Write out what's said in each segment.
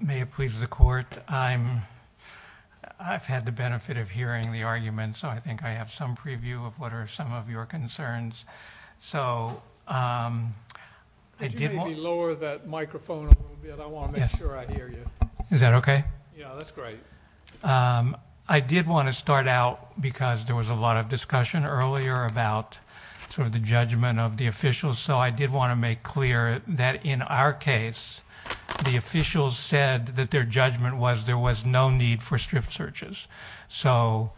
May it please the court. I've had the benefit of hearing the argument, so I think I have some preview of what are some of your concerns. So I did want to start out because there was a lot of discussion earlier about sort of the judgment of the officials, so I did want to make clear that in our case, the officials said that their judgment was there was no need for strip searches. So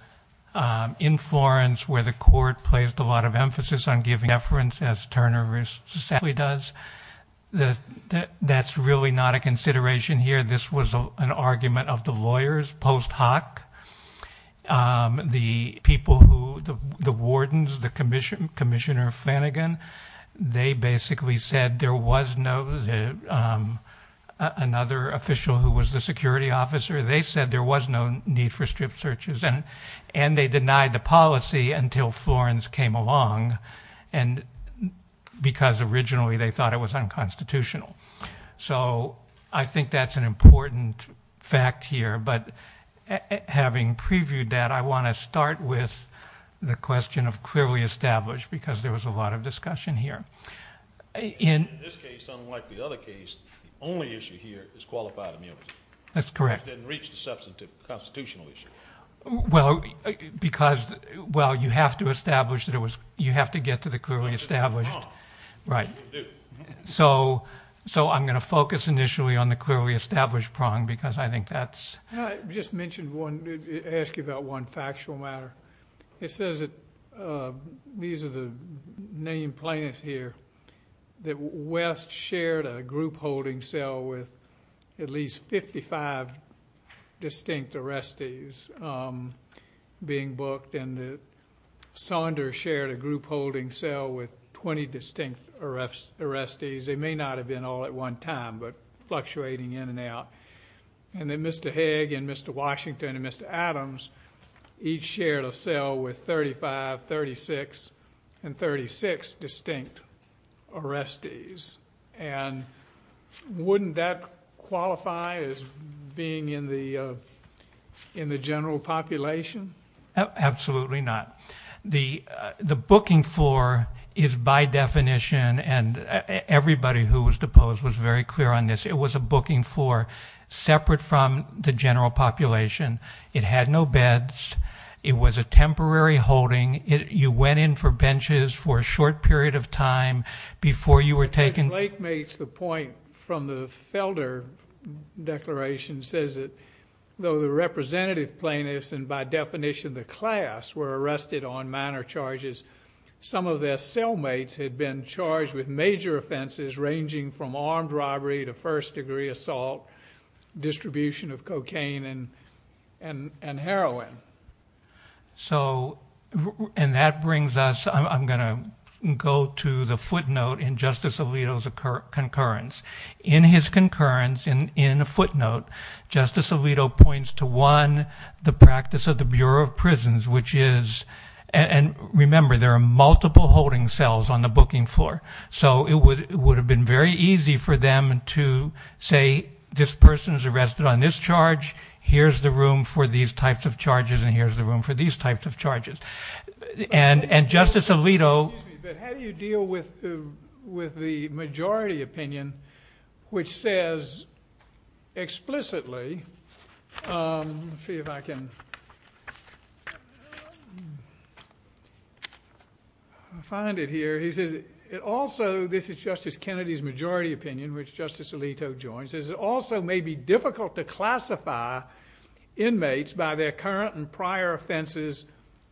in Florence, where the court placed a lot of emphasis on giving deference, as Turner successfully does, that's really not a consideration here. This was an argument of the lawyers post hoc. The people who, the wardens, the Commissioner Flanagan, they basically said there was no, another official who was the security officer, they said there was no need for strip searches. And they denied the policy until Florence came along, because originally they thought it was unconstitutional. So I think that's an important fact here, but having previewed that, I want to start with the question of clearly established, because there was a lot of discussion here. In this case, unlike the other case, the only issue here is qualified immunity. That's correct. It didn't reach the substantive constitutional issue. Well, because, well, you have to establish that it was, you have to get to the clearly established. Right. You can do it. So I'm going to focus initially on the clearly established prong, because I think that's... I just mentioned one, ask you about one factual matter. It says that, these are the named plaintiffs here, that West shared a group holding cell with at least 55 distinct arrestees being booked, and that Saunders shared a group holding cell with 20 distinct arrestees. They may not have been all at one time, but fluctuating in and out. And then Mr. Hague and Mr. Washington and Mr. Adams each shared a cell with 35, 36, and 36 distinct arrestees. And wouldn't that qualify as being in the general population? Absolutely not. The booking floor is by definition, and everybody who was deposed was very clear on this, it was a booking floor separate from the general population. It had no beds. It was a temporary holding. You went in for benches for a short period of time before you were taken... Some of their cellmates had been charged with major offenses ranging from armed robbery to first degree assault, distribution of cocaine and heroin. So, and that brings us... I'm going to go to the footnote in Justice Alito's concurrence. In his concurrence, in a footnote, Justice Alito points to one, the practice of the Bureau of Prisons, which is... And remember, there are multiple holding cells on the booking floor. So, it would have been very easy for them to say, this person is arrested on this charge. Here's the room for these types of charges, and here's the room for these types of charges. And Justice Alito... Which says explicitly... Let's see if I can find it here. He says, it also... This is Justice Kennedy's majority opinion, which Justice Alito joins. It also may be difficult to classify inmates by their current and prior offenses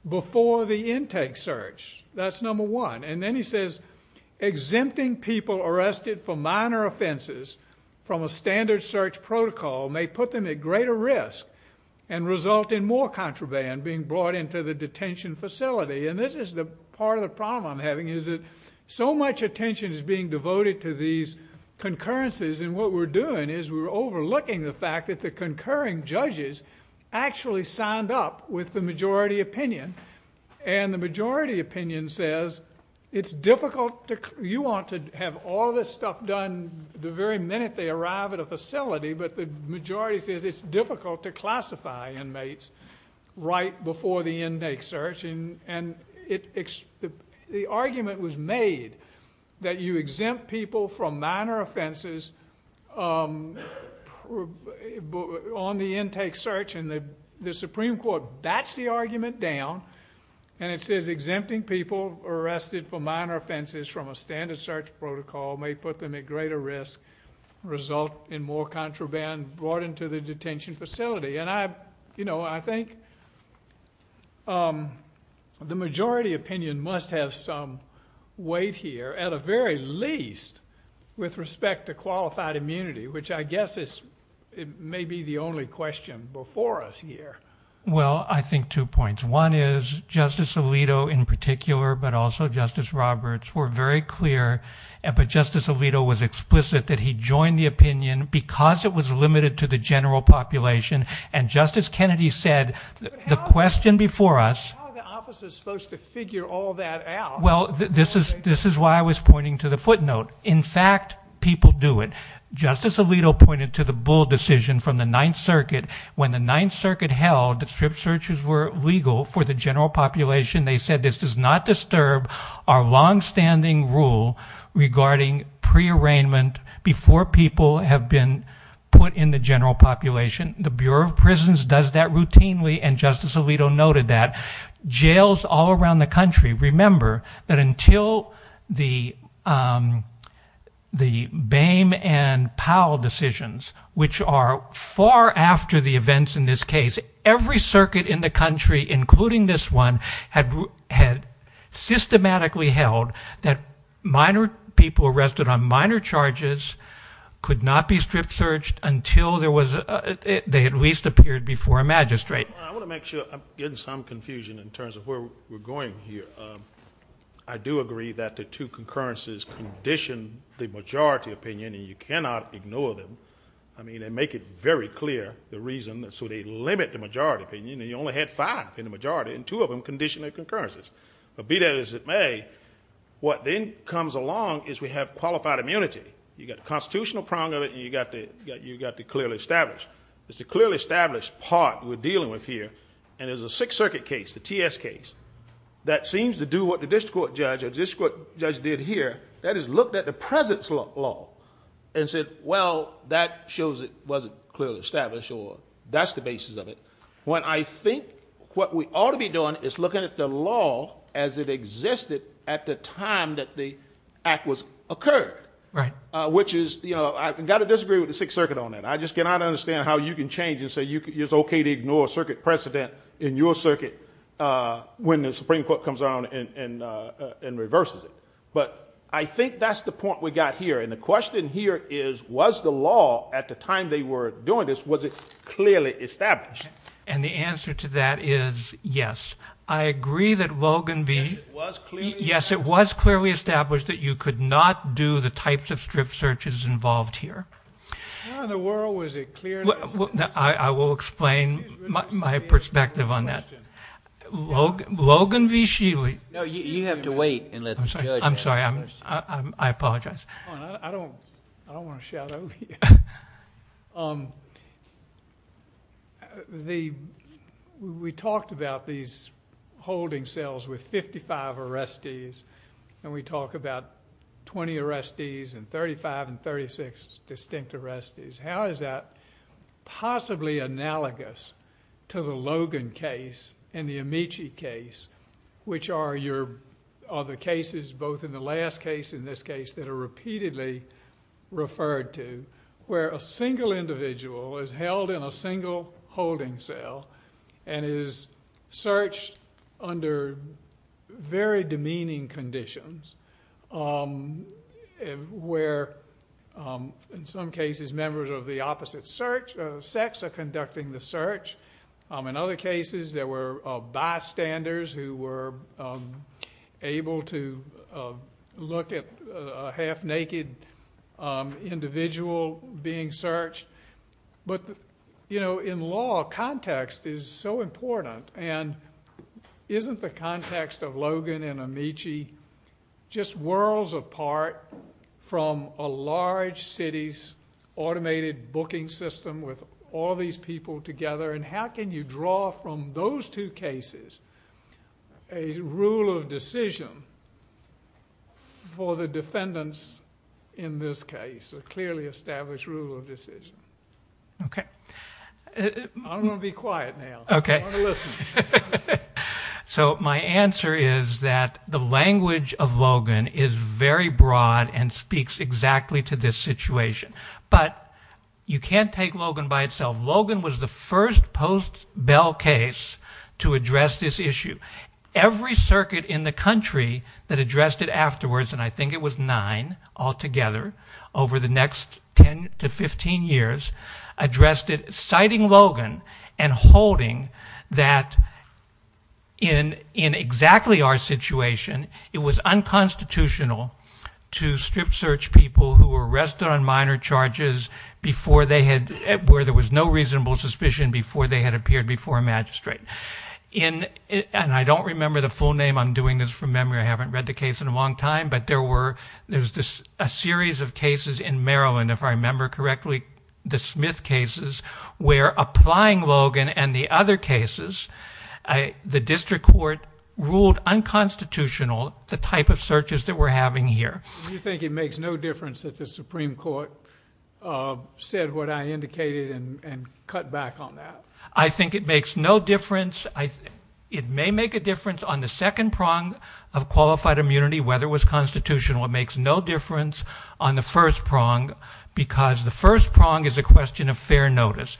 before the intake search. That's number one. And then he says, exempting people arrested for minor offenses from a standard search protocol may put them at greater risk... and result in more contraband being brought into the detention facility. And this is the part of the problem I'm having, is that so much attention is being devoted to these concurrences. And what we're doing is, we're overlooking the fact that the concurring judges actually signed up with the majority opinion. And the majority opinion says, it's difficult to... You want to have all this stuff done the very minute they arrive at a facility. But the majority says, it's difficult to classify inmates right before the intake search. And the argument was made that you exempt people from minor offenses on the intake search. And the Supreme Court bats the argument down. And it says, exempting people arrested for minor offenses from a standard search protocol may put them at greater risk... result in more contraband brought into the detention facility. And I, you know, I think the majority opinion must have some weight here. At the very least, with respect to qualified immunity. Which I guess is, it may be the only question before us here. Well, I think two points. One is, Justice Alito in particular, but also Justice Roberts, were very clear. But Justice Alito was explicit that he joined the opinion because it was limited to the general population. And Justice Kennedy said, the question before us... But how are the officers supposed to figure all that out? Well, this is why I was pointing to the footnote. In fact, people do it. Justice Alito pointed to the Bull decision from the Ninth Circuit. When the Ninth Circuit held that strip searches were legal for the general population. They said, this does not disturb our long-standing rule regarding pre-arraignment... before people have been put in the general population. The Bureau of Prisons does that routinely and Justice Alito noted that. Jails all around the country. Remember, that until the Boehm and Powell decisions, which are far after the events in this case... Every circuit in the country, including this one, had systematically held that minor people arrested on minor charges... could not be strip searched until there was a... they at least appeared before a magistrate. I want to make sure I'm getting some confusion in terms of where we're going here. I do agree that the two concurrences condition the majority opinion and you cannot ignore them. I mean, they make it very clear, the reason, so they limit the majority opinion. You only had five in the majority and two of them conditioned their concurrences. But, be that as it may, what then comes along is we have qualified immunity. You've got the constitutional prong of it and you've got the clearly established. It's a clearly established part we're dealing with here. And, there's a Sixth Circuit case, the T.S. case, that seems to do what the district court judge did here. That is, looked at the presence law and said, well, that shows it wasn't clearly established or that's the basis of it. When I think what we ought to be doing is looking at the law as it existed at the time that the act was occurred. Right. Which is, you know, I've got to disagree with the Sixth Circuit on that. I just cannot understand how you can change and say it's okay to ignore a circuit precedent in your circuit when the Supreme Court comes around and reverses it. But, I think that's the point we've got here. And, the question here is, was the law at the time they were doing this, was it clearly established? And, the answer to that is yes. I agree that Logan B. Yes, it was clearly established. Yes, it was clearly established that you could not do the types of strip searches involved here. Where in the world was it clearly established? I will explain my perspective on that. Logan B. Sheely. No, you have to wait and let the judge answer. I'm sorry, I apologize. I don't want to shout over you. We talked about these holding cells with 55 arrestees. And, we talk about 20 arrestees and 35 and 36 distinct arrestees. How is that possibly analogous to the Logan case and the Amici case? Which are the cases, both in the last case and this case, that are repeatedly referred to. Where a single individual is held in a single holding cell and is searched under very demeaning conditions. Where, in some cases, members of the opposite sex are conducting the search. In other cases, there were bystanders who were able to look at a half-naked individual being searched. But, you know, in law, context is so important. And, isn't the context of Logan and Amici just worlds apart from a large city's automated booking system with all these people together? And, how can you draw from those two cases a rule of decision for the defendants in this case? A clearly established rule of decision. Okay. I'm going to be quiet now. Okay. I don't want to listen. So, my answer is that the language of Logan is very broad and speaks exactly to this situation. But, you can't take Logan by itself. Logan was the first post-Bell case to address this issue. Every circuit in the country that addressed it afterwards, and I think it was nine altogether, over the next 10 to 15 years, addressed it citing Logan and holding that in exactly our situation, it was unconstitutional to strip search people who were arrested on minor charges where there was no reasonable suspicion before they had appeared before a magistrate. And, I don't remember the full name. I'm doing this from memory. I haven't read the case in a long time. But, there was a series of cases in Maryland, if I remember correctly, the Smith cases, where applying Logan and the other cases, the district court ruled unconstitutional the type of searches that we're having here. Do you think it makes no difference that the Supreme Court said what I indicated and cut back on that? I think it makes no difference. It may make a difference on the second prong of qualified immunity, whether it was constitutional. It makes no difference on the first prong because the first prong is a question of fair notice.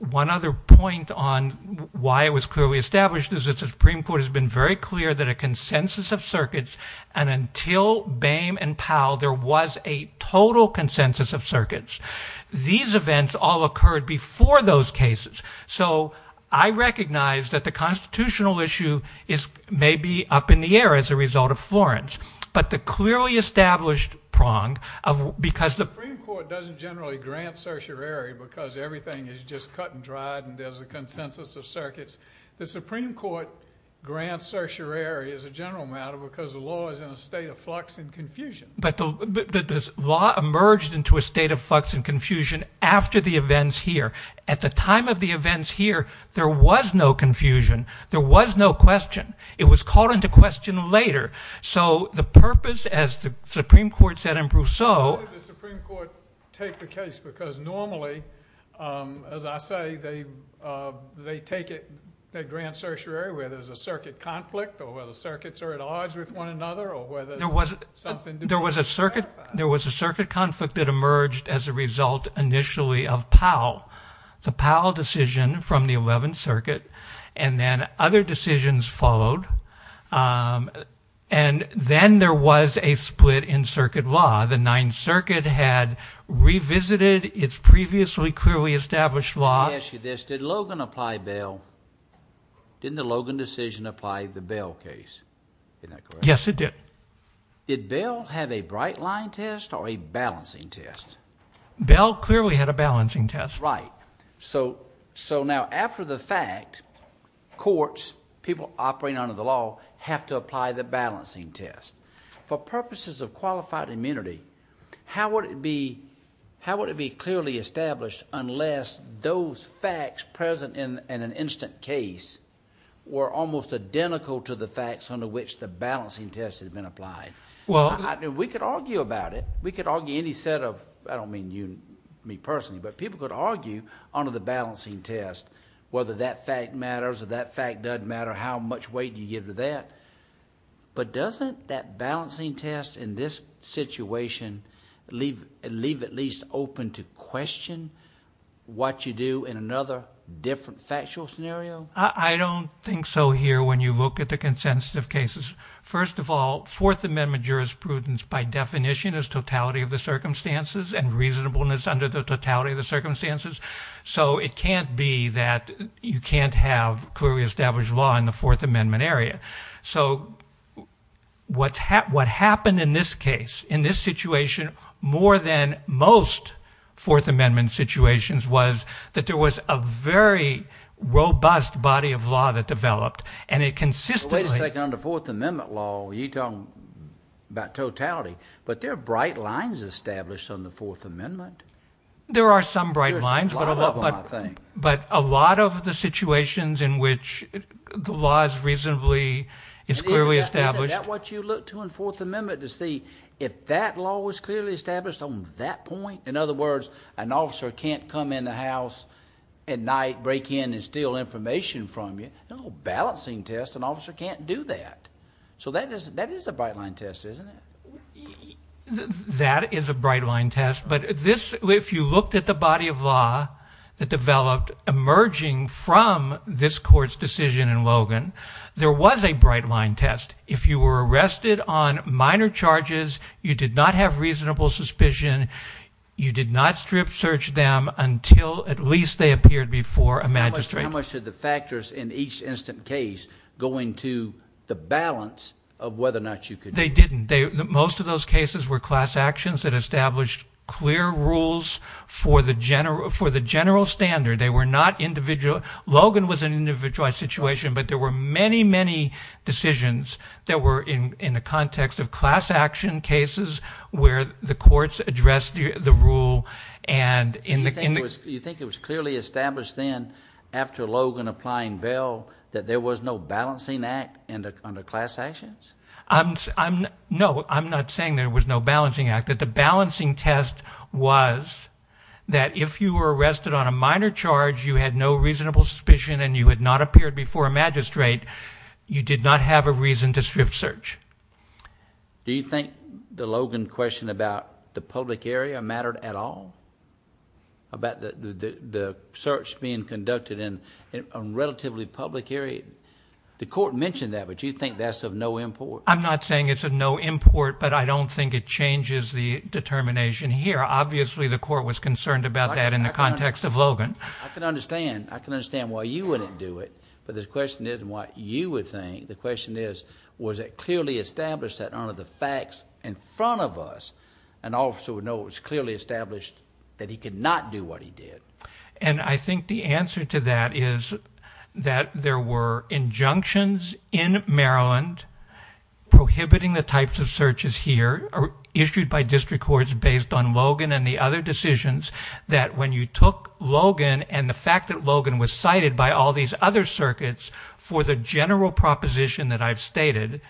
One other point on why it was clearly established is that the Supreme Court has been very clear that a consensus of circuits, and until Boehm and Powell, there was a total consensus of circuits. These events all occurred before those cases. So, I recognize that the constitutional issue is maybe up in the air as a result of Florence. But, the clearly established prong, because the… The Supreme Court doesn't generally grant certiorari because everything is just cut and dried and there's a consensus of circuits. The Supreme Court grants certiorari as a general matter because the law is in a state of flux and confusion. But, the law emerged into a state of flux and confusion after the events here. At the time of the events here, there was no confusion. There was no question. It was called into question later. So, the purpose, as the Supreme Court said in Brousseau… Why did the Supreme Court take the case? Because normally, as I say, they take it, they grant certiorari where there's a circuit conflict or where the circuits are at odds with one another or where there's something… There was a circuit conflict that emerged as a result initially of Powell. The Powell decision from the 11th Circuit and then other decisions followed. And then there was a split in circuit law. The 9th Circuit had revisited its previously clearly established law. Let me ask you this. Did Logan apply bail? Didn't the Logan decision apply the bail case? Isn't that correct? Yes, it did. Did bail have a bright line test or a balancing test? Bail clearly had a balancing test. Right. So, now after the fact, courts, people operating under the law, have to apply the balancing test. For purposes of qualified immunity, how would it be clearly established unless those facts present in an instant case were almost identical to the facts under which the balancing test had been applied? We could argue about it. We could argue any set of... I don't mean you, me personally, but people could argue under the balancing test whether that fact matters or that fact doesn't matter, how much weight you give to that. But doesn't that balancing test in this situation leave at least open to question what you do in another different factual scenario? I don't think so here when you look at the consensus of cases. First of all, Fourth Amendment jurisprudence by definition is totality of the circumstances and reasonableness under the totality of the circumstances. So, it can't be that you can't have clearly established law in the Fourth Amendment area. So, what happened in this case, in this situation, more than most Fourth Amendment situations, was that there was a very robust body of law that developed, and it consistently... Wait a second. On the Fourth Amendment law, you're talking about totality, but there are bright lines established on the Fourth Amendment. There are some bright lines. There's a lot of them, I think. But a lot of the situations in which the law is reasonably... is clearly established... Isn't that what you look to in Fourth Amendment to see? If that law was clearly established on that point, in other words, an officer can't come in the house at night, break in, and steal information from you. No balancing test. An officer can't do that. So, that is a bright line test, isn't it? That is a bright line test. But if you looked at the body of law that developed emerging from this court's decision in Logan, there was a bright line test. If you were arrested on minor charges, you did not have reasonable suspicion, you did not strip search them until at least they appeared before a magistrate. How much did the factors in each instant case go into the balance of whether or not you could... They didn't. Most of those cases were class actions that established clear rules for the general standard. They were not individual. Logan was an individualized situation, but there were many, many decisions that were in the context of class action cases where the courts addressed the rule and in the... You think it was clearly established then, after Logan applying bail, that there was no balancing act under class actions? No, I'm not saying there was no balancing act. The balancing test was that if you were arrested on a minor charge, you had no reasonable suspicion and you had not appeared before a magistrate, you did not have a reason to strip search. Do you think the Logan question about the public area mattered at all? About the search being conducted in a relatively public area? The court mentioned that, but you think that's of no import? I'm not saying it's of no import, but I don't think it changes the determination here. Obviously, the court was concerned about that in the context of Logan. I can understand why you wouldn't do it, but the question isn't what you would think. The question is, was it clearly established that under the facts in front of us, an officer would know it was clearly established that he could not do what he did? And I think the answer to that is that there were injunctions in Maryland prohibiting the types of searches here issued by district courts based on Logan and the other decisions that when you took Logan and the fact that Logan was cited by all these other circuits for the general proposition that I've stated,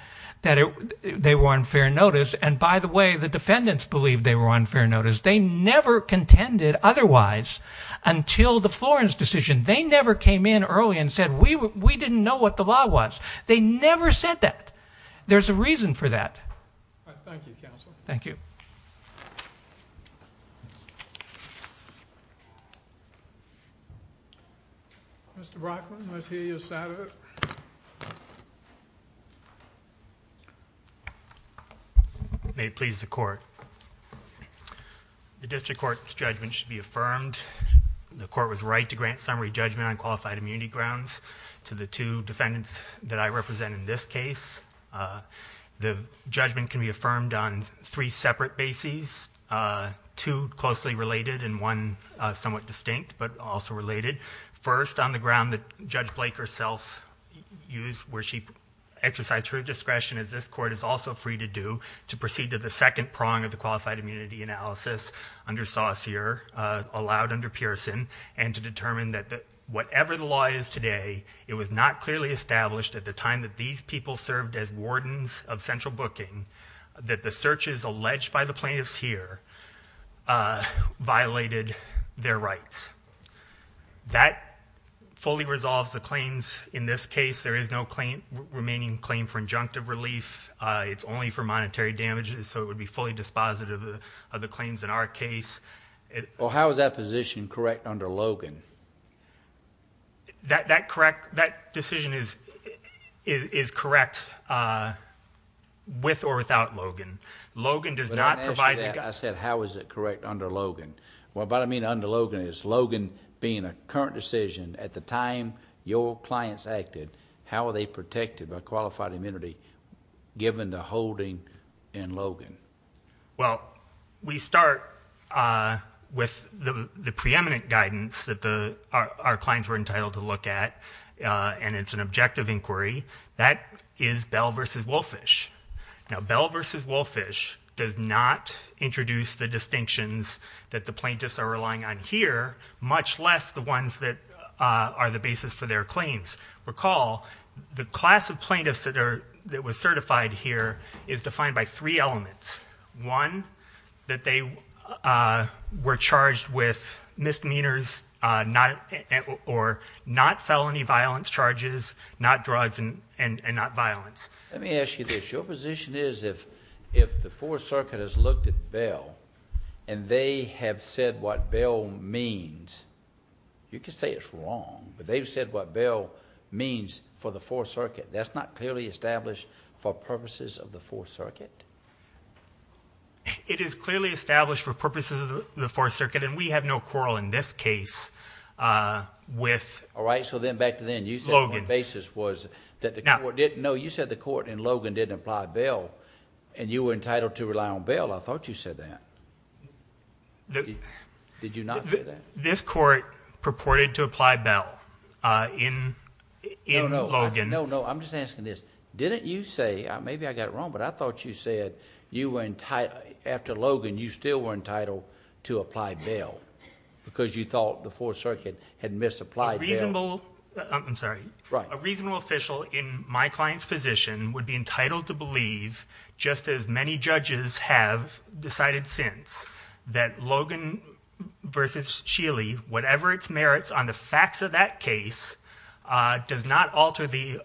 that they were on fair notice. And by the way, the defendants believed they were on fair notice. They never contended otherwise until the Florence decision. They never came in early and said, we didn't know what the law was. They never said that. There's a reason for that. Thank you, counsel. Thank you. Mr. Brockman, let's hear your side of it. May it please the court. The district court's judgment should be affirmed. The court was right to grant summary judgment on qualified immunity grounds to the two defendants that I represent in this case. The judgment can be affirmed on three separate bases, two closely related and one somewhat distinct but also related. First, on the ground that Judge Blake herself used where she exercised her discretion as this court is also free to do to proceed to the second prong of the qualified immunity analysis under Saucere, allowed under Pearson, and to determine that whatever the law is today, it was not clearly established at the time that these people served as wardens of central booking that the searches alleged by the plaintiffs here violated their rights. That fully resolves the claims in this case. There is no remaining claim for injunctive relief. It's only for monetary damages, so it would be fully dispositive of the claims in our case. How is that position correct under Logan? That decision is correct with or without Logan. Logan does not provide... When I asked you that, I said, how is it correct under Logan? What I mean under Logan is Logan being a current decision at the time your clients acted, how were they protected by qualified immunity given the holding in Logan? Well, we start with the preeminent guidance that our clients were entitled to look at, and it's an objective inquiry. That is Bell v. Wolfish. Now, Bell v. Wolfish does not introduce the distinctions that the plaintiffs are relying on here, much less the ones that are the basis for their claims. Recall, the class of plaintiffs that was certified here is defined by three elements. One, that they were charged with misdemeanors or not felony violence charges, not drugs, and not violence. Let me ask you this. Your position is if the Fourth Circuit has looked at Bell, and they have said what Bell means, you can say it's wrong, but they've said what Bell means for the Fourth Circuit. That's not clearly established for purposes of the Fourth Circuit? It is clearly established for purposes of the Fourth Circuit, and we have no quarrel in this case with Logan. All right, so then back to then. You said the basis was that the court... and you were entitled to rely on Bell. I thought you said that. Did you not say that? This court purported to apply Bell in Logan. No, no, I'm just asking this. Didn't you say... maybe I got it wrong, but I thought you said after Logan you still were entitled to apply Bell because you thought the Fourth Circuit had misapplied Bell. A reasonable... I'm sorry. Right. A reasonable official in my client's position would be entitled to believe, just as many judges have decided since, that Logan v. Scheele, whatever its merits on the facts of that case, does not alter the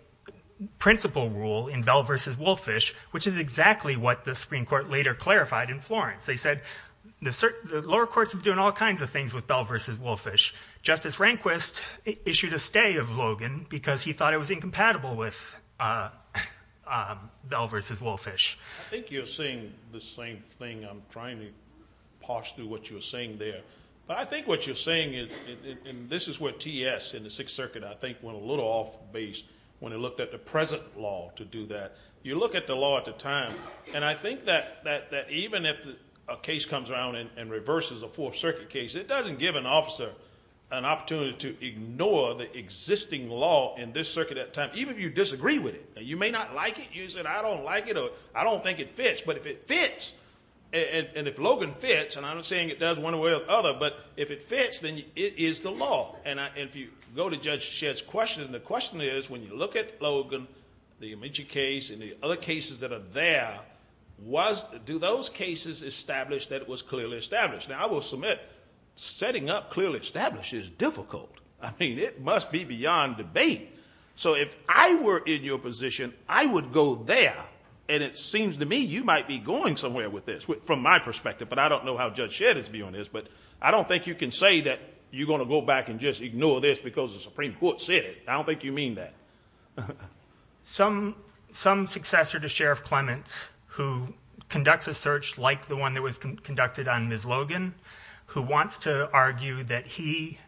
principle rule in Bell v. Wolfish, which is exactly what the Supreme Court later clarified in Florence. They said the lower courts have been doing all kinds of things with Bell v. Wolfish. Justice Rehnquist issued a stay of Logan because he thought it was incompatible with Bell v. Wolfish. I think you're saying the same thing. I'm trying to parse through what you were saying there. But I think what you're saying is... and this is where T.E.S. in the Sixth Circuit, I think, went a little off base when it looked at the present law to do that. You look at the law at the time, and I think that even if a case comes around and reverses a Fourth Circuit case, it doesn't give an officer an opportunity to ignore the existing law in this circuit at the time, even if you disagree with it. You may not like it. You may say, I don't like it, or I don't think it fits. But if it fits, and if Logan fits, and I'm not saying it does one way or the other, but if it fits, then it is the law. And if you go to Judge Shedd's question, the question is, when you look at Logan, the Amici case, and the other cases that are there, do those cases establish that it was clearly established? Now, I will submit setting up clearly established is difficult. I mean, it must be beyond debate. So if I were in your position, I would go there, and it seems to me you might be going somewhere with this from my perspective, but I don't know how Judge Shedd is viewing this. But I don't think you can say that you're going to go back and just ignore this because the Supreme Court said it. I don't think you mean that. Some successor to Sheriff Clements, who conducts a search like the one that was conducted on Ms. Logan, who wants to argue that he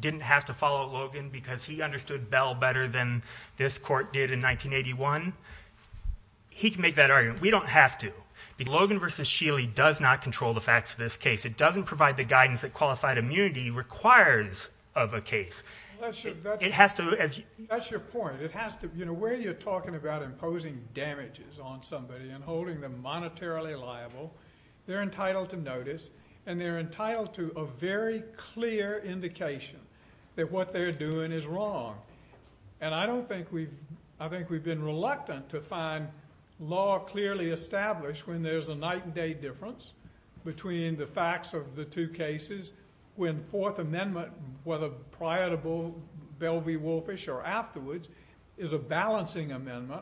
didn't have to follow Logan because he understood Bell better than this court did in 1981, he can make that argument. We don't have to. Logan v. Sheely does not control the facts of this case. It doesn't provide the guidance that qualified immunity requires of a case. That's your point. Where you're talking about imposing damages on somebody and holding them monetarily liable, they're entitled to notice, and they're entitled to a very clear indication that what they're doing is wrong. And I think we've been reluctant to find law clearly established when there's a night and day difference between the facts of the two cases when the Fourth Amendment, whether prior to Bell v. Wolfish or afterwards, is a balancing amendment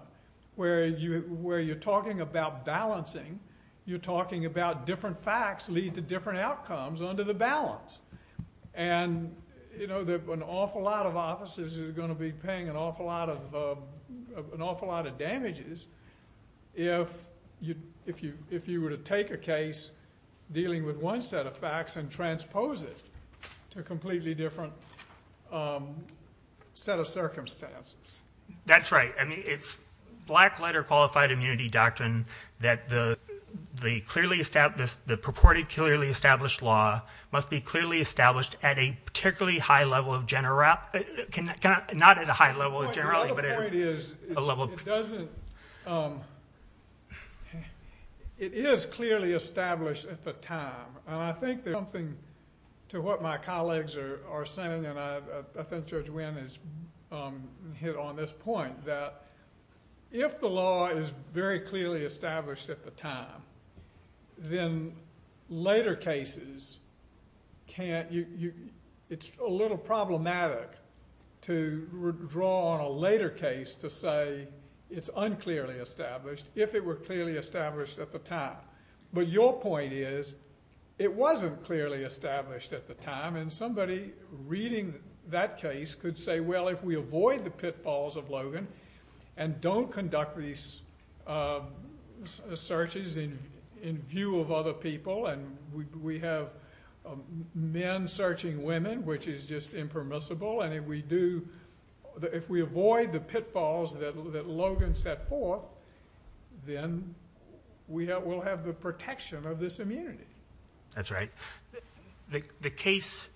where you're talking about balancing, you're talking about different facts lead to different outcomes under the balance. And an awful lot of officers are going to be paying an awful lot of damages to a completely different set of circumstances. That's right. I mean, it's black-letter qualified immunity doctrine that the purported clearly established law must be clearly established at a particularly high level of generality. Not at a high level of generality, but at a level. My other point is it is clearly established at the time, and I think there's something to what my colleagues are saying, and I think Judge Winn has hit on this point, that if the law is very clearly established at the time, then later cases can't... It's a little problematic to draw on a later case to say it's unclearly established if it were clearly established at the time. But your point is it wasn't clearly established at the time, and somebody reading that case could say, well, if we avoid the pitfalls of Logan and don't conduct these searches in view of other people, and we have men searching women, which is just impermissible, and if we avoid the pitfalls that Logan set forth, then we'll have the protection of this immunity. That's right. The case,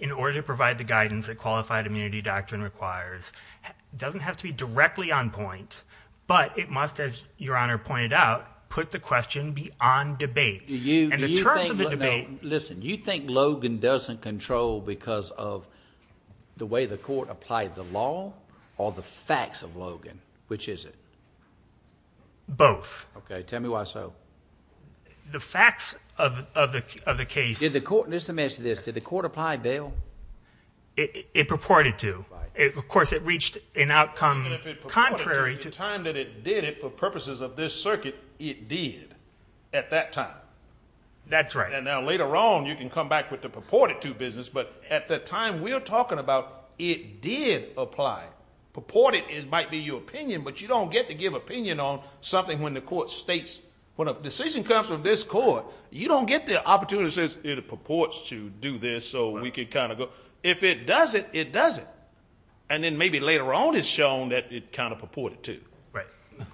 in order to provide the guidance that qualified immunity doctrine requires, doesn't have to be directly on point, but it must, as Your Honor pointed out, put the question beyond debate. And the terms of the debate... Listen, you think Logan doesn't control because of the way the court applied the law or the facts of Logan, which is it? Both. Okay, tell me why so. The facts of the case... Just to mention this, did the court apply bail? It purported to. Of course, it reached an outcome contrary to... If it purported to at the time that it did it for purposes of this circuit, it did at that time. That's right. And now later on, you can come back with the purported to business, but at the time we're talking about, it did apply. Purported might be your opinion, but you don't get to give opinion on something when the court states... When a decision comes from this court, you don't get the opportunity to say, it purports to do this so we can kind of go... If it doesn't, it doesn't. And then maybe later on it's shown that it kind of purported to. Right.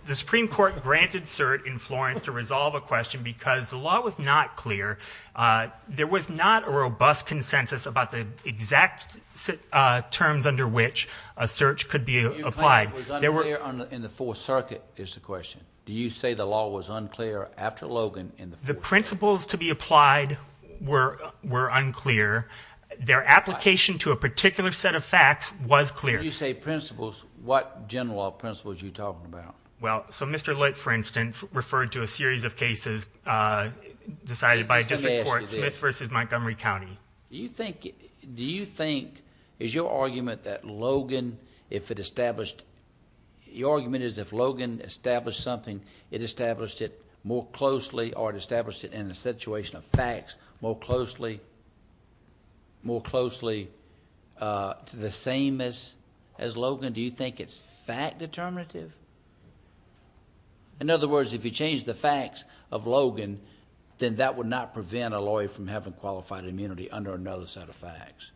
The Supreme Court granted cert in Florence to resolve a question because the law was not clear. There was not a robust consensus about the exact terms under which a cert could be applied. Your claim it was unclear in the Fourth Circuit is the question. Do you say the law was unclear after Logan in the Fourth Circuit? The principles to be applied were unclear. Their application to a particular set of facts was clear. When you say principles, what general law principles are you talking about? Well, so Mr. Litt, for instance, it's referred to a series of cases decided by a district court, Smith v. Montgomery County. Do you think it's your argument that Logan, if it established... Your argument is if Logan established something, it established it more closely or it established it in a situation of facts more closely to the same as Logan? Do you think it's fact determinative? In other words, if you change the facts of Logan, then that would not prevent a lawyer from having qualified immunity under another set of facts.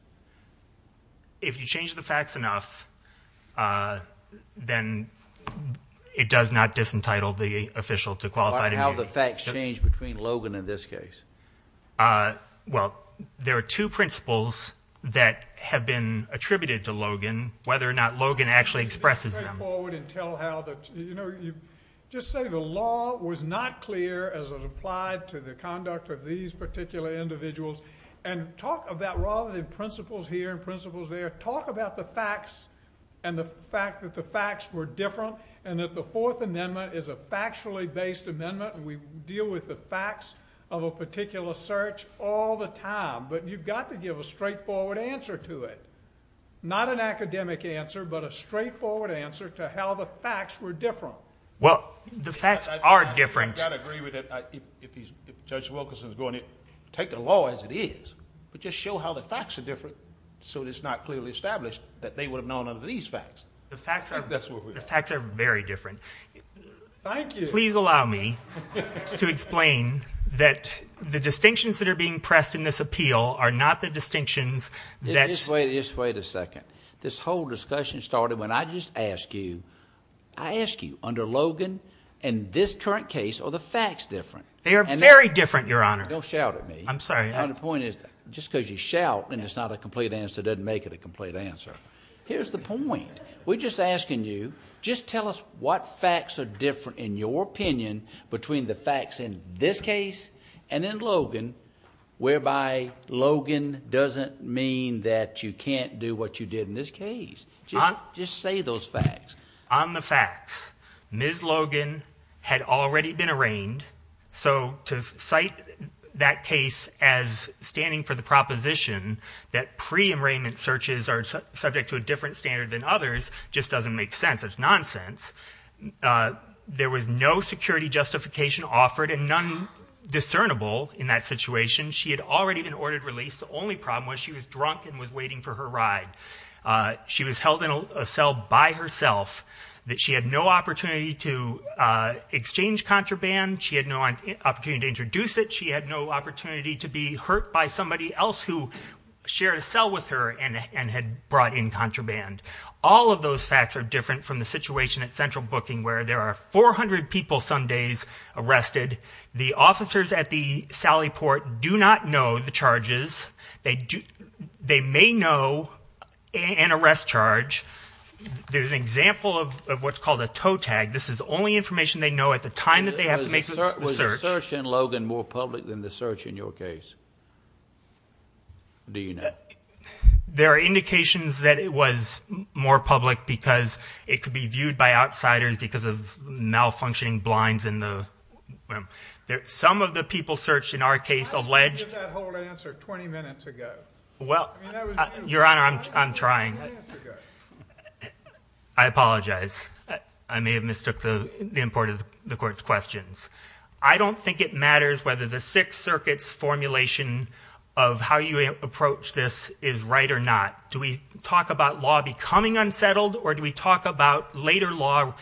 If you change the facts enough, then it does not disentitle the official to qualified immunity. How do the facts change between Logan and this case? Well, there are two principles that have been attributed to Logan, whether or not Logan actually expresses them. Just say the law was not clear as it applied to the conduct of these particular individuals, and rather than principles here and principles there, talk about the facts and the fact that the facts were different and that the Fourth Amendment is a factually based amendment and we deal with the facts of a particular search all the time, but you've got to give a straightforward answer to it. Not an academic answer, but a straightforward answer to how the facts were different. Well, the facts are different. I've got to agree with that. If Judge Wilkerson is going to take the law as it is but just show how the facts are different so it's not clearly established that they would have known under these facts. The facts are very different. Thank you. Please allow me to explain that the distinctions that are being pressed in this appeal are not the distinctions that... Just wait a second. This whole discussion started when I just asked you, I asked you, under Logan, in this current case, are the facts different? They are very different, Your Honor. Don't shout at me. I'm sorry. The point is, just because you shout and it's not a complete answer doesn't make it a complete answer. Here's the point. We're just asking you, just tell us what facts are different, in your opinion, between the facts in this case and in Logan whereby Logan doesn't mean that you can't do what you did in this case. Just say those facts. On the facts, Ms. Logan had already been arraigned, so to cite that case as standing for the proposition that pre-arraignment searches are subject to a different standard than others just doesn't make sense. It's nonsense. There was no security justification offered and none discernible in that situation. She had already been ordered release. The only problem was she was drunk and was waiting for her ride. She was held in a cell by herself. She had no opportunity to exchange contraband. She had no opportunity to introduce it. She had no opportunity to be hurt by somebody else who shared a cell with her and had brought in contraband. All of those facts are different from the situation at Central Booking where there are 400 people some days arrested. The officers at the Sally Port do not know the charges. They may know an arrest charge. There's an example of what's called a tow tag. This is the only information they know at the time that they have to make the search. Was the search in Logan more public than the search in your case? Do you know? There are indications that it was more public because it could be viewed by outsiders because of malfunctioning blinds in the room. Some of the people searched in our case alleged. How did you get that whole answer 20 minutes ago? Your Honor, I'm trying. I apologize. I may have mistook the importance of the Court's questions. I don't think it matters whether the Sixth Circuit's formulation of how you approach this is right or not. Do we talk about law becoming unsettled or do we talk about later law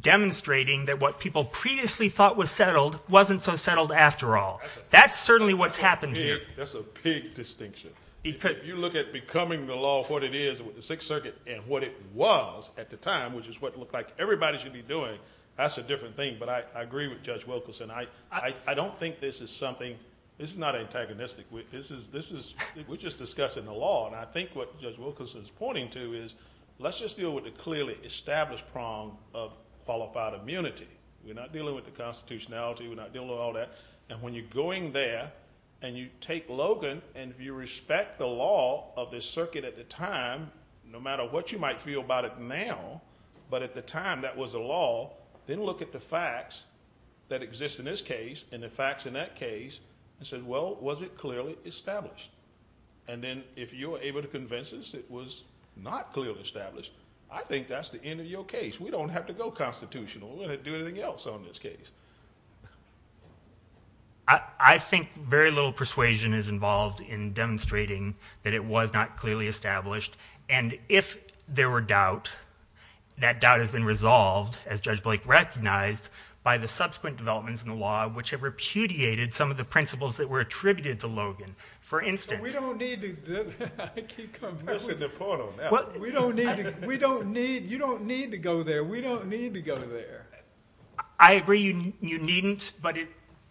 demonstrating that what people previously thought was settled wasn't so settled after all? That's certainly what's happened here. That's a big distinction. If you look at becoming the law, what it is with the Sixth Circuit and what it was at the time, which is what it looked like everybody should be doing, that's a different thing. But I agree with Judge Wilkerson. I don't think this is something. This is not antagonistic. We're just discussing the law. I think what Judge Wilkerson is pointing to is let's just deal with the clearly established problem of qualified immunity. We're not dealing with the constitutionality. We're not dealing with all that. When you're going there and you take Logan and you respect the law of the Circuit at the time, no matter what you might feel about it now, but at the time that was the law, then look at the facts that exist in this case and the facts in that case and say, well, was it clearly established? Then if you're able to convince us it was not clearly established, I think that's the end of your case. We don't have to go constitutional. We're going to do anything else on this case. I think very little persuasion is involved in demonstrating that it was not clearly established. If there were doubt, that doubt has been resolved, as Judge Blake recognized, by the subsequent developments in the law which have repudiated some of the principles that were attributed to Logan. For instance— We don't need to do that. I keep coming back to that. You don't need to go there. We don't need to go there. I agree you needn't, but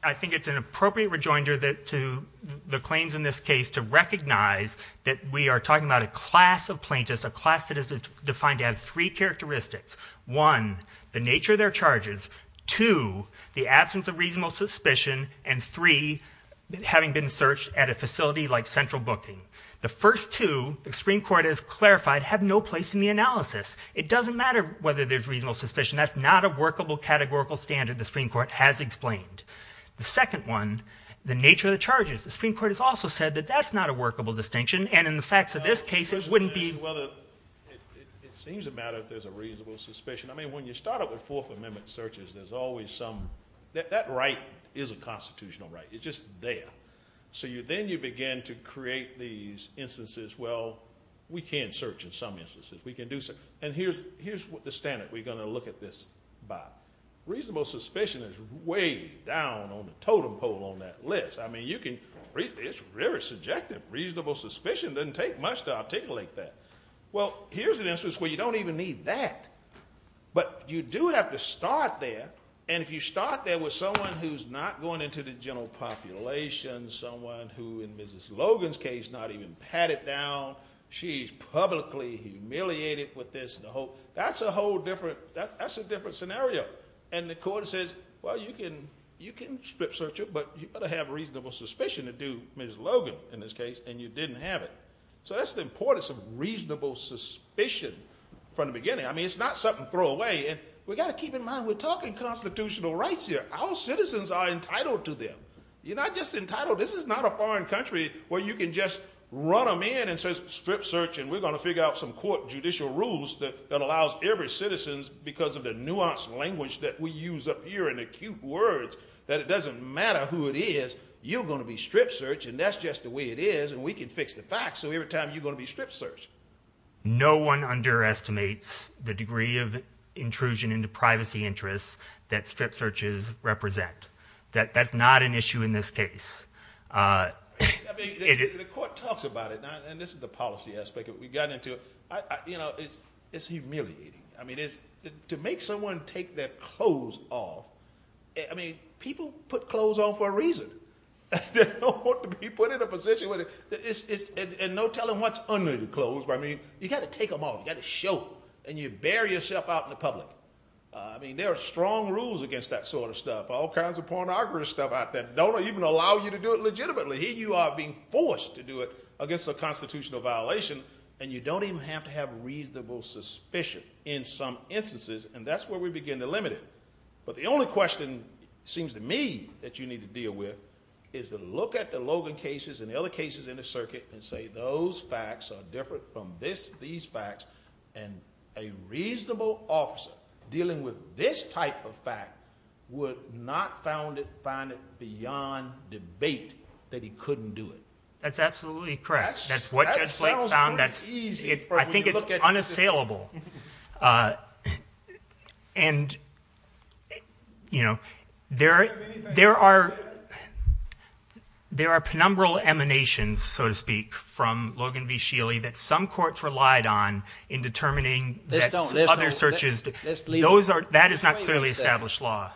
I think it's an appropriate rejoinder to the claims in this case to recognize that we are talking about a class of plaintiffs, a class that is defined to have three characteristics. One, the nature of their charges. Two, the absence of reasonable suspicion. And three, having been searched at a facility like Central Booking. The first two, the Supreme Court has clarified, have no place in the analysis. It doesn't matter whether there's reasonable suspicion. That's not a workable categorical standard the Supreme Court has explained. The second one, the nature of the charges. The Supreme Court has also said that that's not a workable distinction, and in the facts of this case it wouldn't be— It seems a matter if there's a reasonable suspicion. I mean, when you start up with Fourth Amendment searches, there's always some—that right is a constitutional right. It's just there. So then you begin to create these instances, well, we can search in some instances. We can do some—and here's the standard. We're going to look at this by. Reasonable suspicion is way down on the totem pole on that list. I mean, you can—it's very subjective. Reasonable suspicion doesn't take much to articulate that. Well, here's an instance where you don't even need that. But you do have to start there, and if you start there with someone who's not going into the general population, someone who, in Mrs. Logan's case, not even pat it down, she's publicly humiliated with this, that's a whole different—that's a different scenario. And the court says, well, you can strip search her, but you've got to have reasonable suspicion to do Mrs. Logan in this case, and you didn't have it. So that's the importance of reasonable suspicion from the beginning. I mean, it's not something to throw away. And we've got to keep in mind we're talking constitutional rights here. Our citizens are entitled to them. You're not just entitled—this is not a foreign country where you can just run them in and say strip search, and we're going to figure out some court judicial rules that allows every citizen, because of the nuanced language that we use up here and the acute words that it doesn't matter who it is, you're going to be strip searched, and that's just the way it is, and we can fix the facts, so every time you're going to be strip searched. No one underestimates the degree of intrusion into privacy interests that strip searches represent. That's not an issue in this case. The court talks about it, and this is the policy aspect. We've gotten into it. It's humiliating. I mean, to make someone take their clothes off, I mean, people put clothes on for a reason. They don't want to be put in a position where it's— and no telling what's under the clothes. I mean, you've got to take them off. You've got to show them, and you bury yourself out in the public. I mean, there are strong rules against that sort of stuff, all kinds of pornographic stuff out there that don't even allow you to do it legitimately. Here you are being forced to do it against a constitutional violation, and you don't even have to have reasonable suspicion in some instances, and that's where we begin to limit it. But the only question, it seems to me, that you need to deal with is to look at the Logan cases and the other cases in the circuit and say those facts are different from these facts, and a reasonable officer dealing with this type of fact would not find it beyond debate that he couldn't do it. That's absolutely correct. That's what Judge Blake found. I think it's unassailable. And, you know, there are penumbral emanations, so to speak, from Logan v. Sheely that some courts relied on in determining other searches. That is not clearly established law.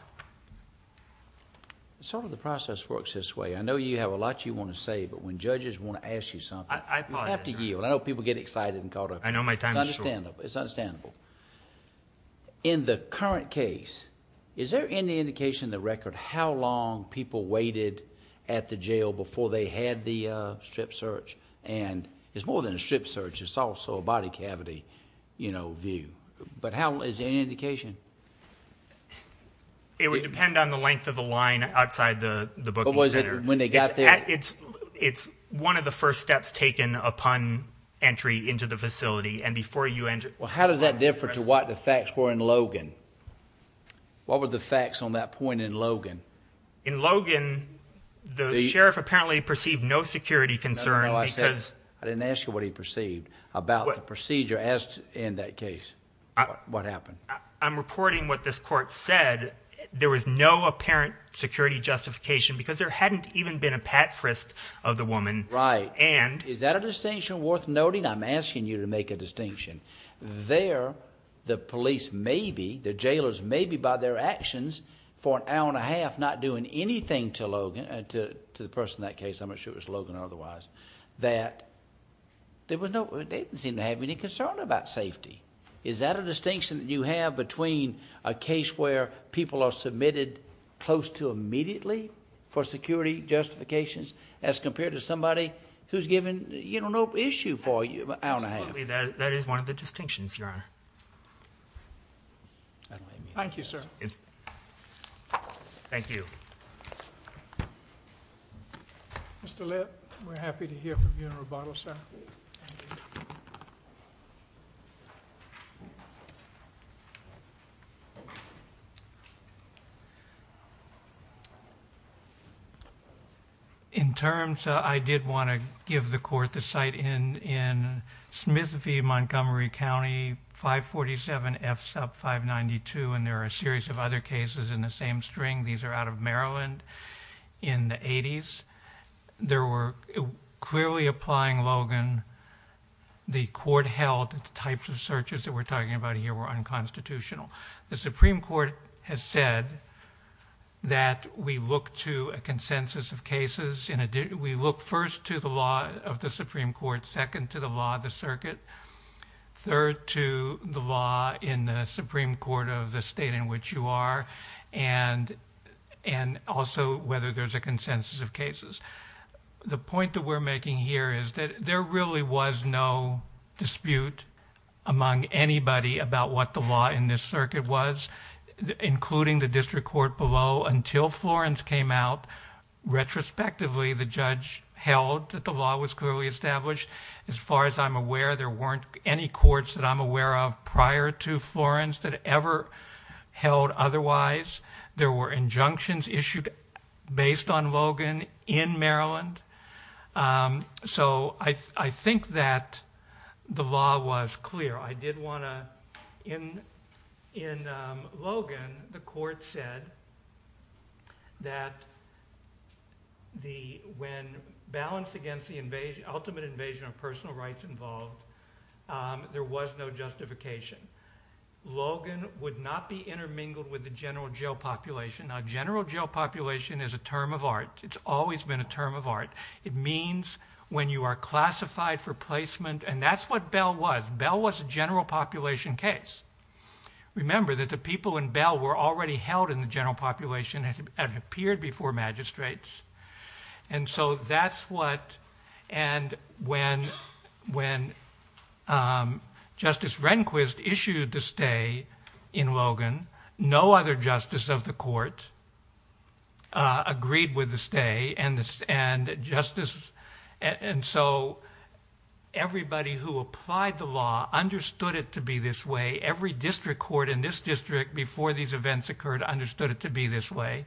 Sort of the process works this way. I know you have a lot you want to say, but when judges want to ask you something... I apologize, Your Honor. You have to yield. I know people get excited and caught up. I know my time is short. It's understandable. In the current case, is there any indication in the record how long people waited at the jail before they had the strip search? It's more than a strip search. It's also a body cavity, you know, view. Is there any indication? It would depend on the length of the line outside the booking center. But when they got there... It's one of the first steps taken upon entry into the facility. And before you enter... Well, how does that differ to what the facts were in Logan? What were the facts on that point in Logan? In Logan, the sheriff apparently perceived no security concern because... No, no, no. I didn't ask you what he perceived about the procedure in that case, what happened. I'm reporting what this court said. There was no apparent security justification because there hadn't even been a pat frisk of the woman. Right. And... Is that a distinction worth noting? I'm asking you to make a distinction. There, the police may be, the jailers may be by their actions for an hour and a half not doing anything to Logan, to the person in that case, I'm not sure if it was Logan or otherwise, that they didn't seem to have any concern about safety. Is that a distinction that you have between a case where people are submitted close to immediately for security justifications as compared to somebody who's given no issue for an hour and a half? Absolutely, that is one of the distinctions, Your Honor. Thank you, sir. Thank you. Mr. Lipp, we're happy to hear from you in rebuttal, sir. Thank you. In terms, I did want to give the court the site in Smithsville, Montgomery County, 547F sub 592, and there are a series of other cases in the same string. These are out of Maryland in the 80s. There were, clearly applying Logan, the court held the types of searches that we're talking about here were unconstitutional. The Supreme Court has said that we look to a consensus of cases. We look first to the law of the Supreme Court, second to the law of the circuit, third to the law in the Supreme Court of the state in which you are, and also whether there's a consensus of cases. The point that we're making here is that there really was no dispute among anybody about what the law in this circuit was, including the district court below, until Florence came out. Retrospectively, the judge held that the law was clearly established. As far as I'm aware, there weren't any courts that I'm aware of prior to Florence that ever held otherwise. There were injunctions issued based on Logan in Maryland, so I think that the law was clear. In Logan, the court said that when balanced against the ultimate invasion of personal rights involved, there was no justification. Logan would not be intermingled with the general jail population. Now, general jail population is a term of art. It's always been a term of art. It means when you are classified for placement, and that's what Bell was. Bell was a general population case. Remember that the people in Bell were already held in the general population and had appeared before magistrates. When Justice Rehnquist issued the stay in Logan, no other justice of the court agreed with the stay. Everybody who applied the law understood it to be this way. Every district court in this district, before these events occurred, understood it to be this way.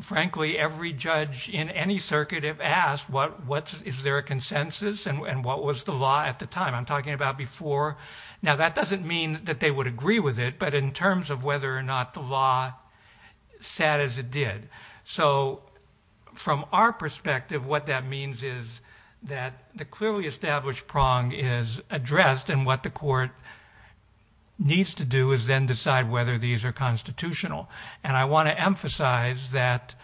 Frankly, every judge in any circuit asked, is there a consensus, and what was the law at the time? I'm talking about before. Now, that doesn't mean that they would agree with it, but in terms of whether or not the law sat as it did. From our perspective, what that means is that the clearly established prong is addressed, and what the court needs to do is then decide whether these are constitutional. I want to emphasize that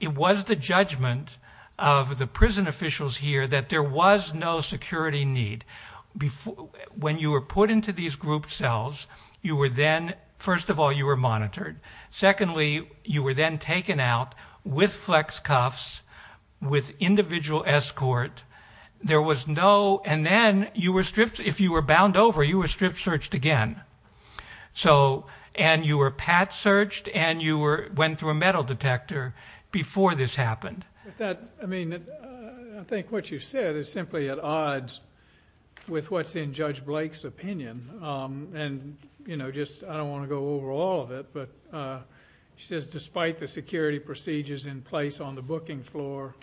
it was the judgment of the prison officials here that there was no security need. When you were put into these group cells, first of all, you were monitored. Secondly, you were then taken out with flex cuffs, with individual escort. There was no, and then you were stripped. If you were bound over, you were stripped, searched again. You were pat-searched, and you went through a metal detector before this happened. I think what you said is simply at odds with what's in Judge Blake's opinion. I don't want to go over all of it, but she says, despite the security procedures in place on the booking floor,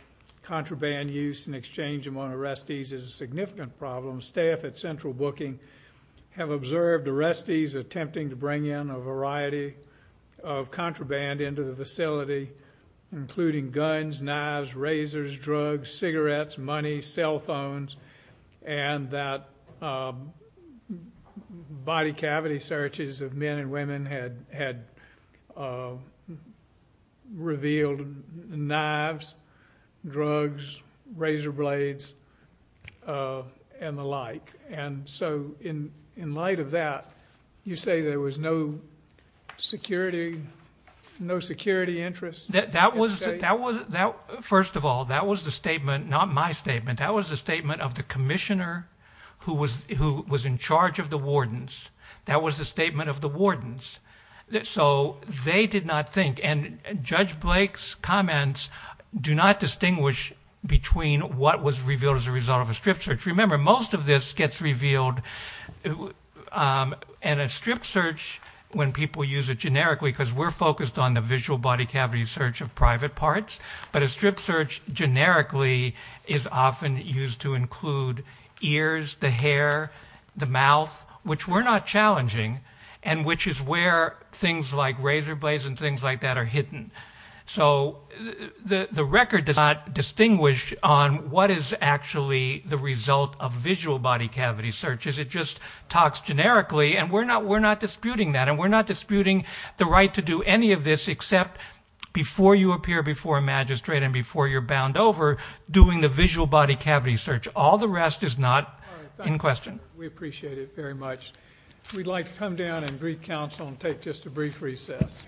contraband use and exchange among arrestees is a significant problem. Staff at Central Booking have observed arrestees attempting to bring in a variety of contraband into the facility, including guns, knives, razors, drugs, cigarettes, money, cell phones, and that body cavity searches of men and women had revealed knives, drugs, razor blades, and the like. So in light of that, you say there was no security interest? First of all, that was the statement, not my statement. That was the statement of the commissioner who was in charge of the wardens. That was the statement of the wardens. So they did not think, and Judge Blake's comments do not distinguish between what was revealed as a result of a strip search. Remember, most of this gets revealed in a strip search when people use it generically because we're focused on the visual body cavity search of private parts, but a strip search generically is often used to include ears, the hair, the mouth, which were not challenging and which is where things like razor blades and things like that are hidden. So the record does not distinguish on what is actually the result of visual body cavity searches. It just talks generically, and we're not disputing that, and we're not disputing the right to do any of this except before you appear before a magistrate and before you're bound over doing the visual body cavity search. All the rest is not in question. We appreciate it very much. We'd like to come down and brief counsel and take just a brief recess.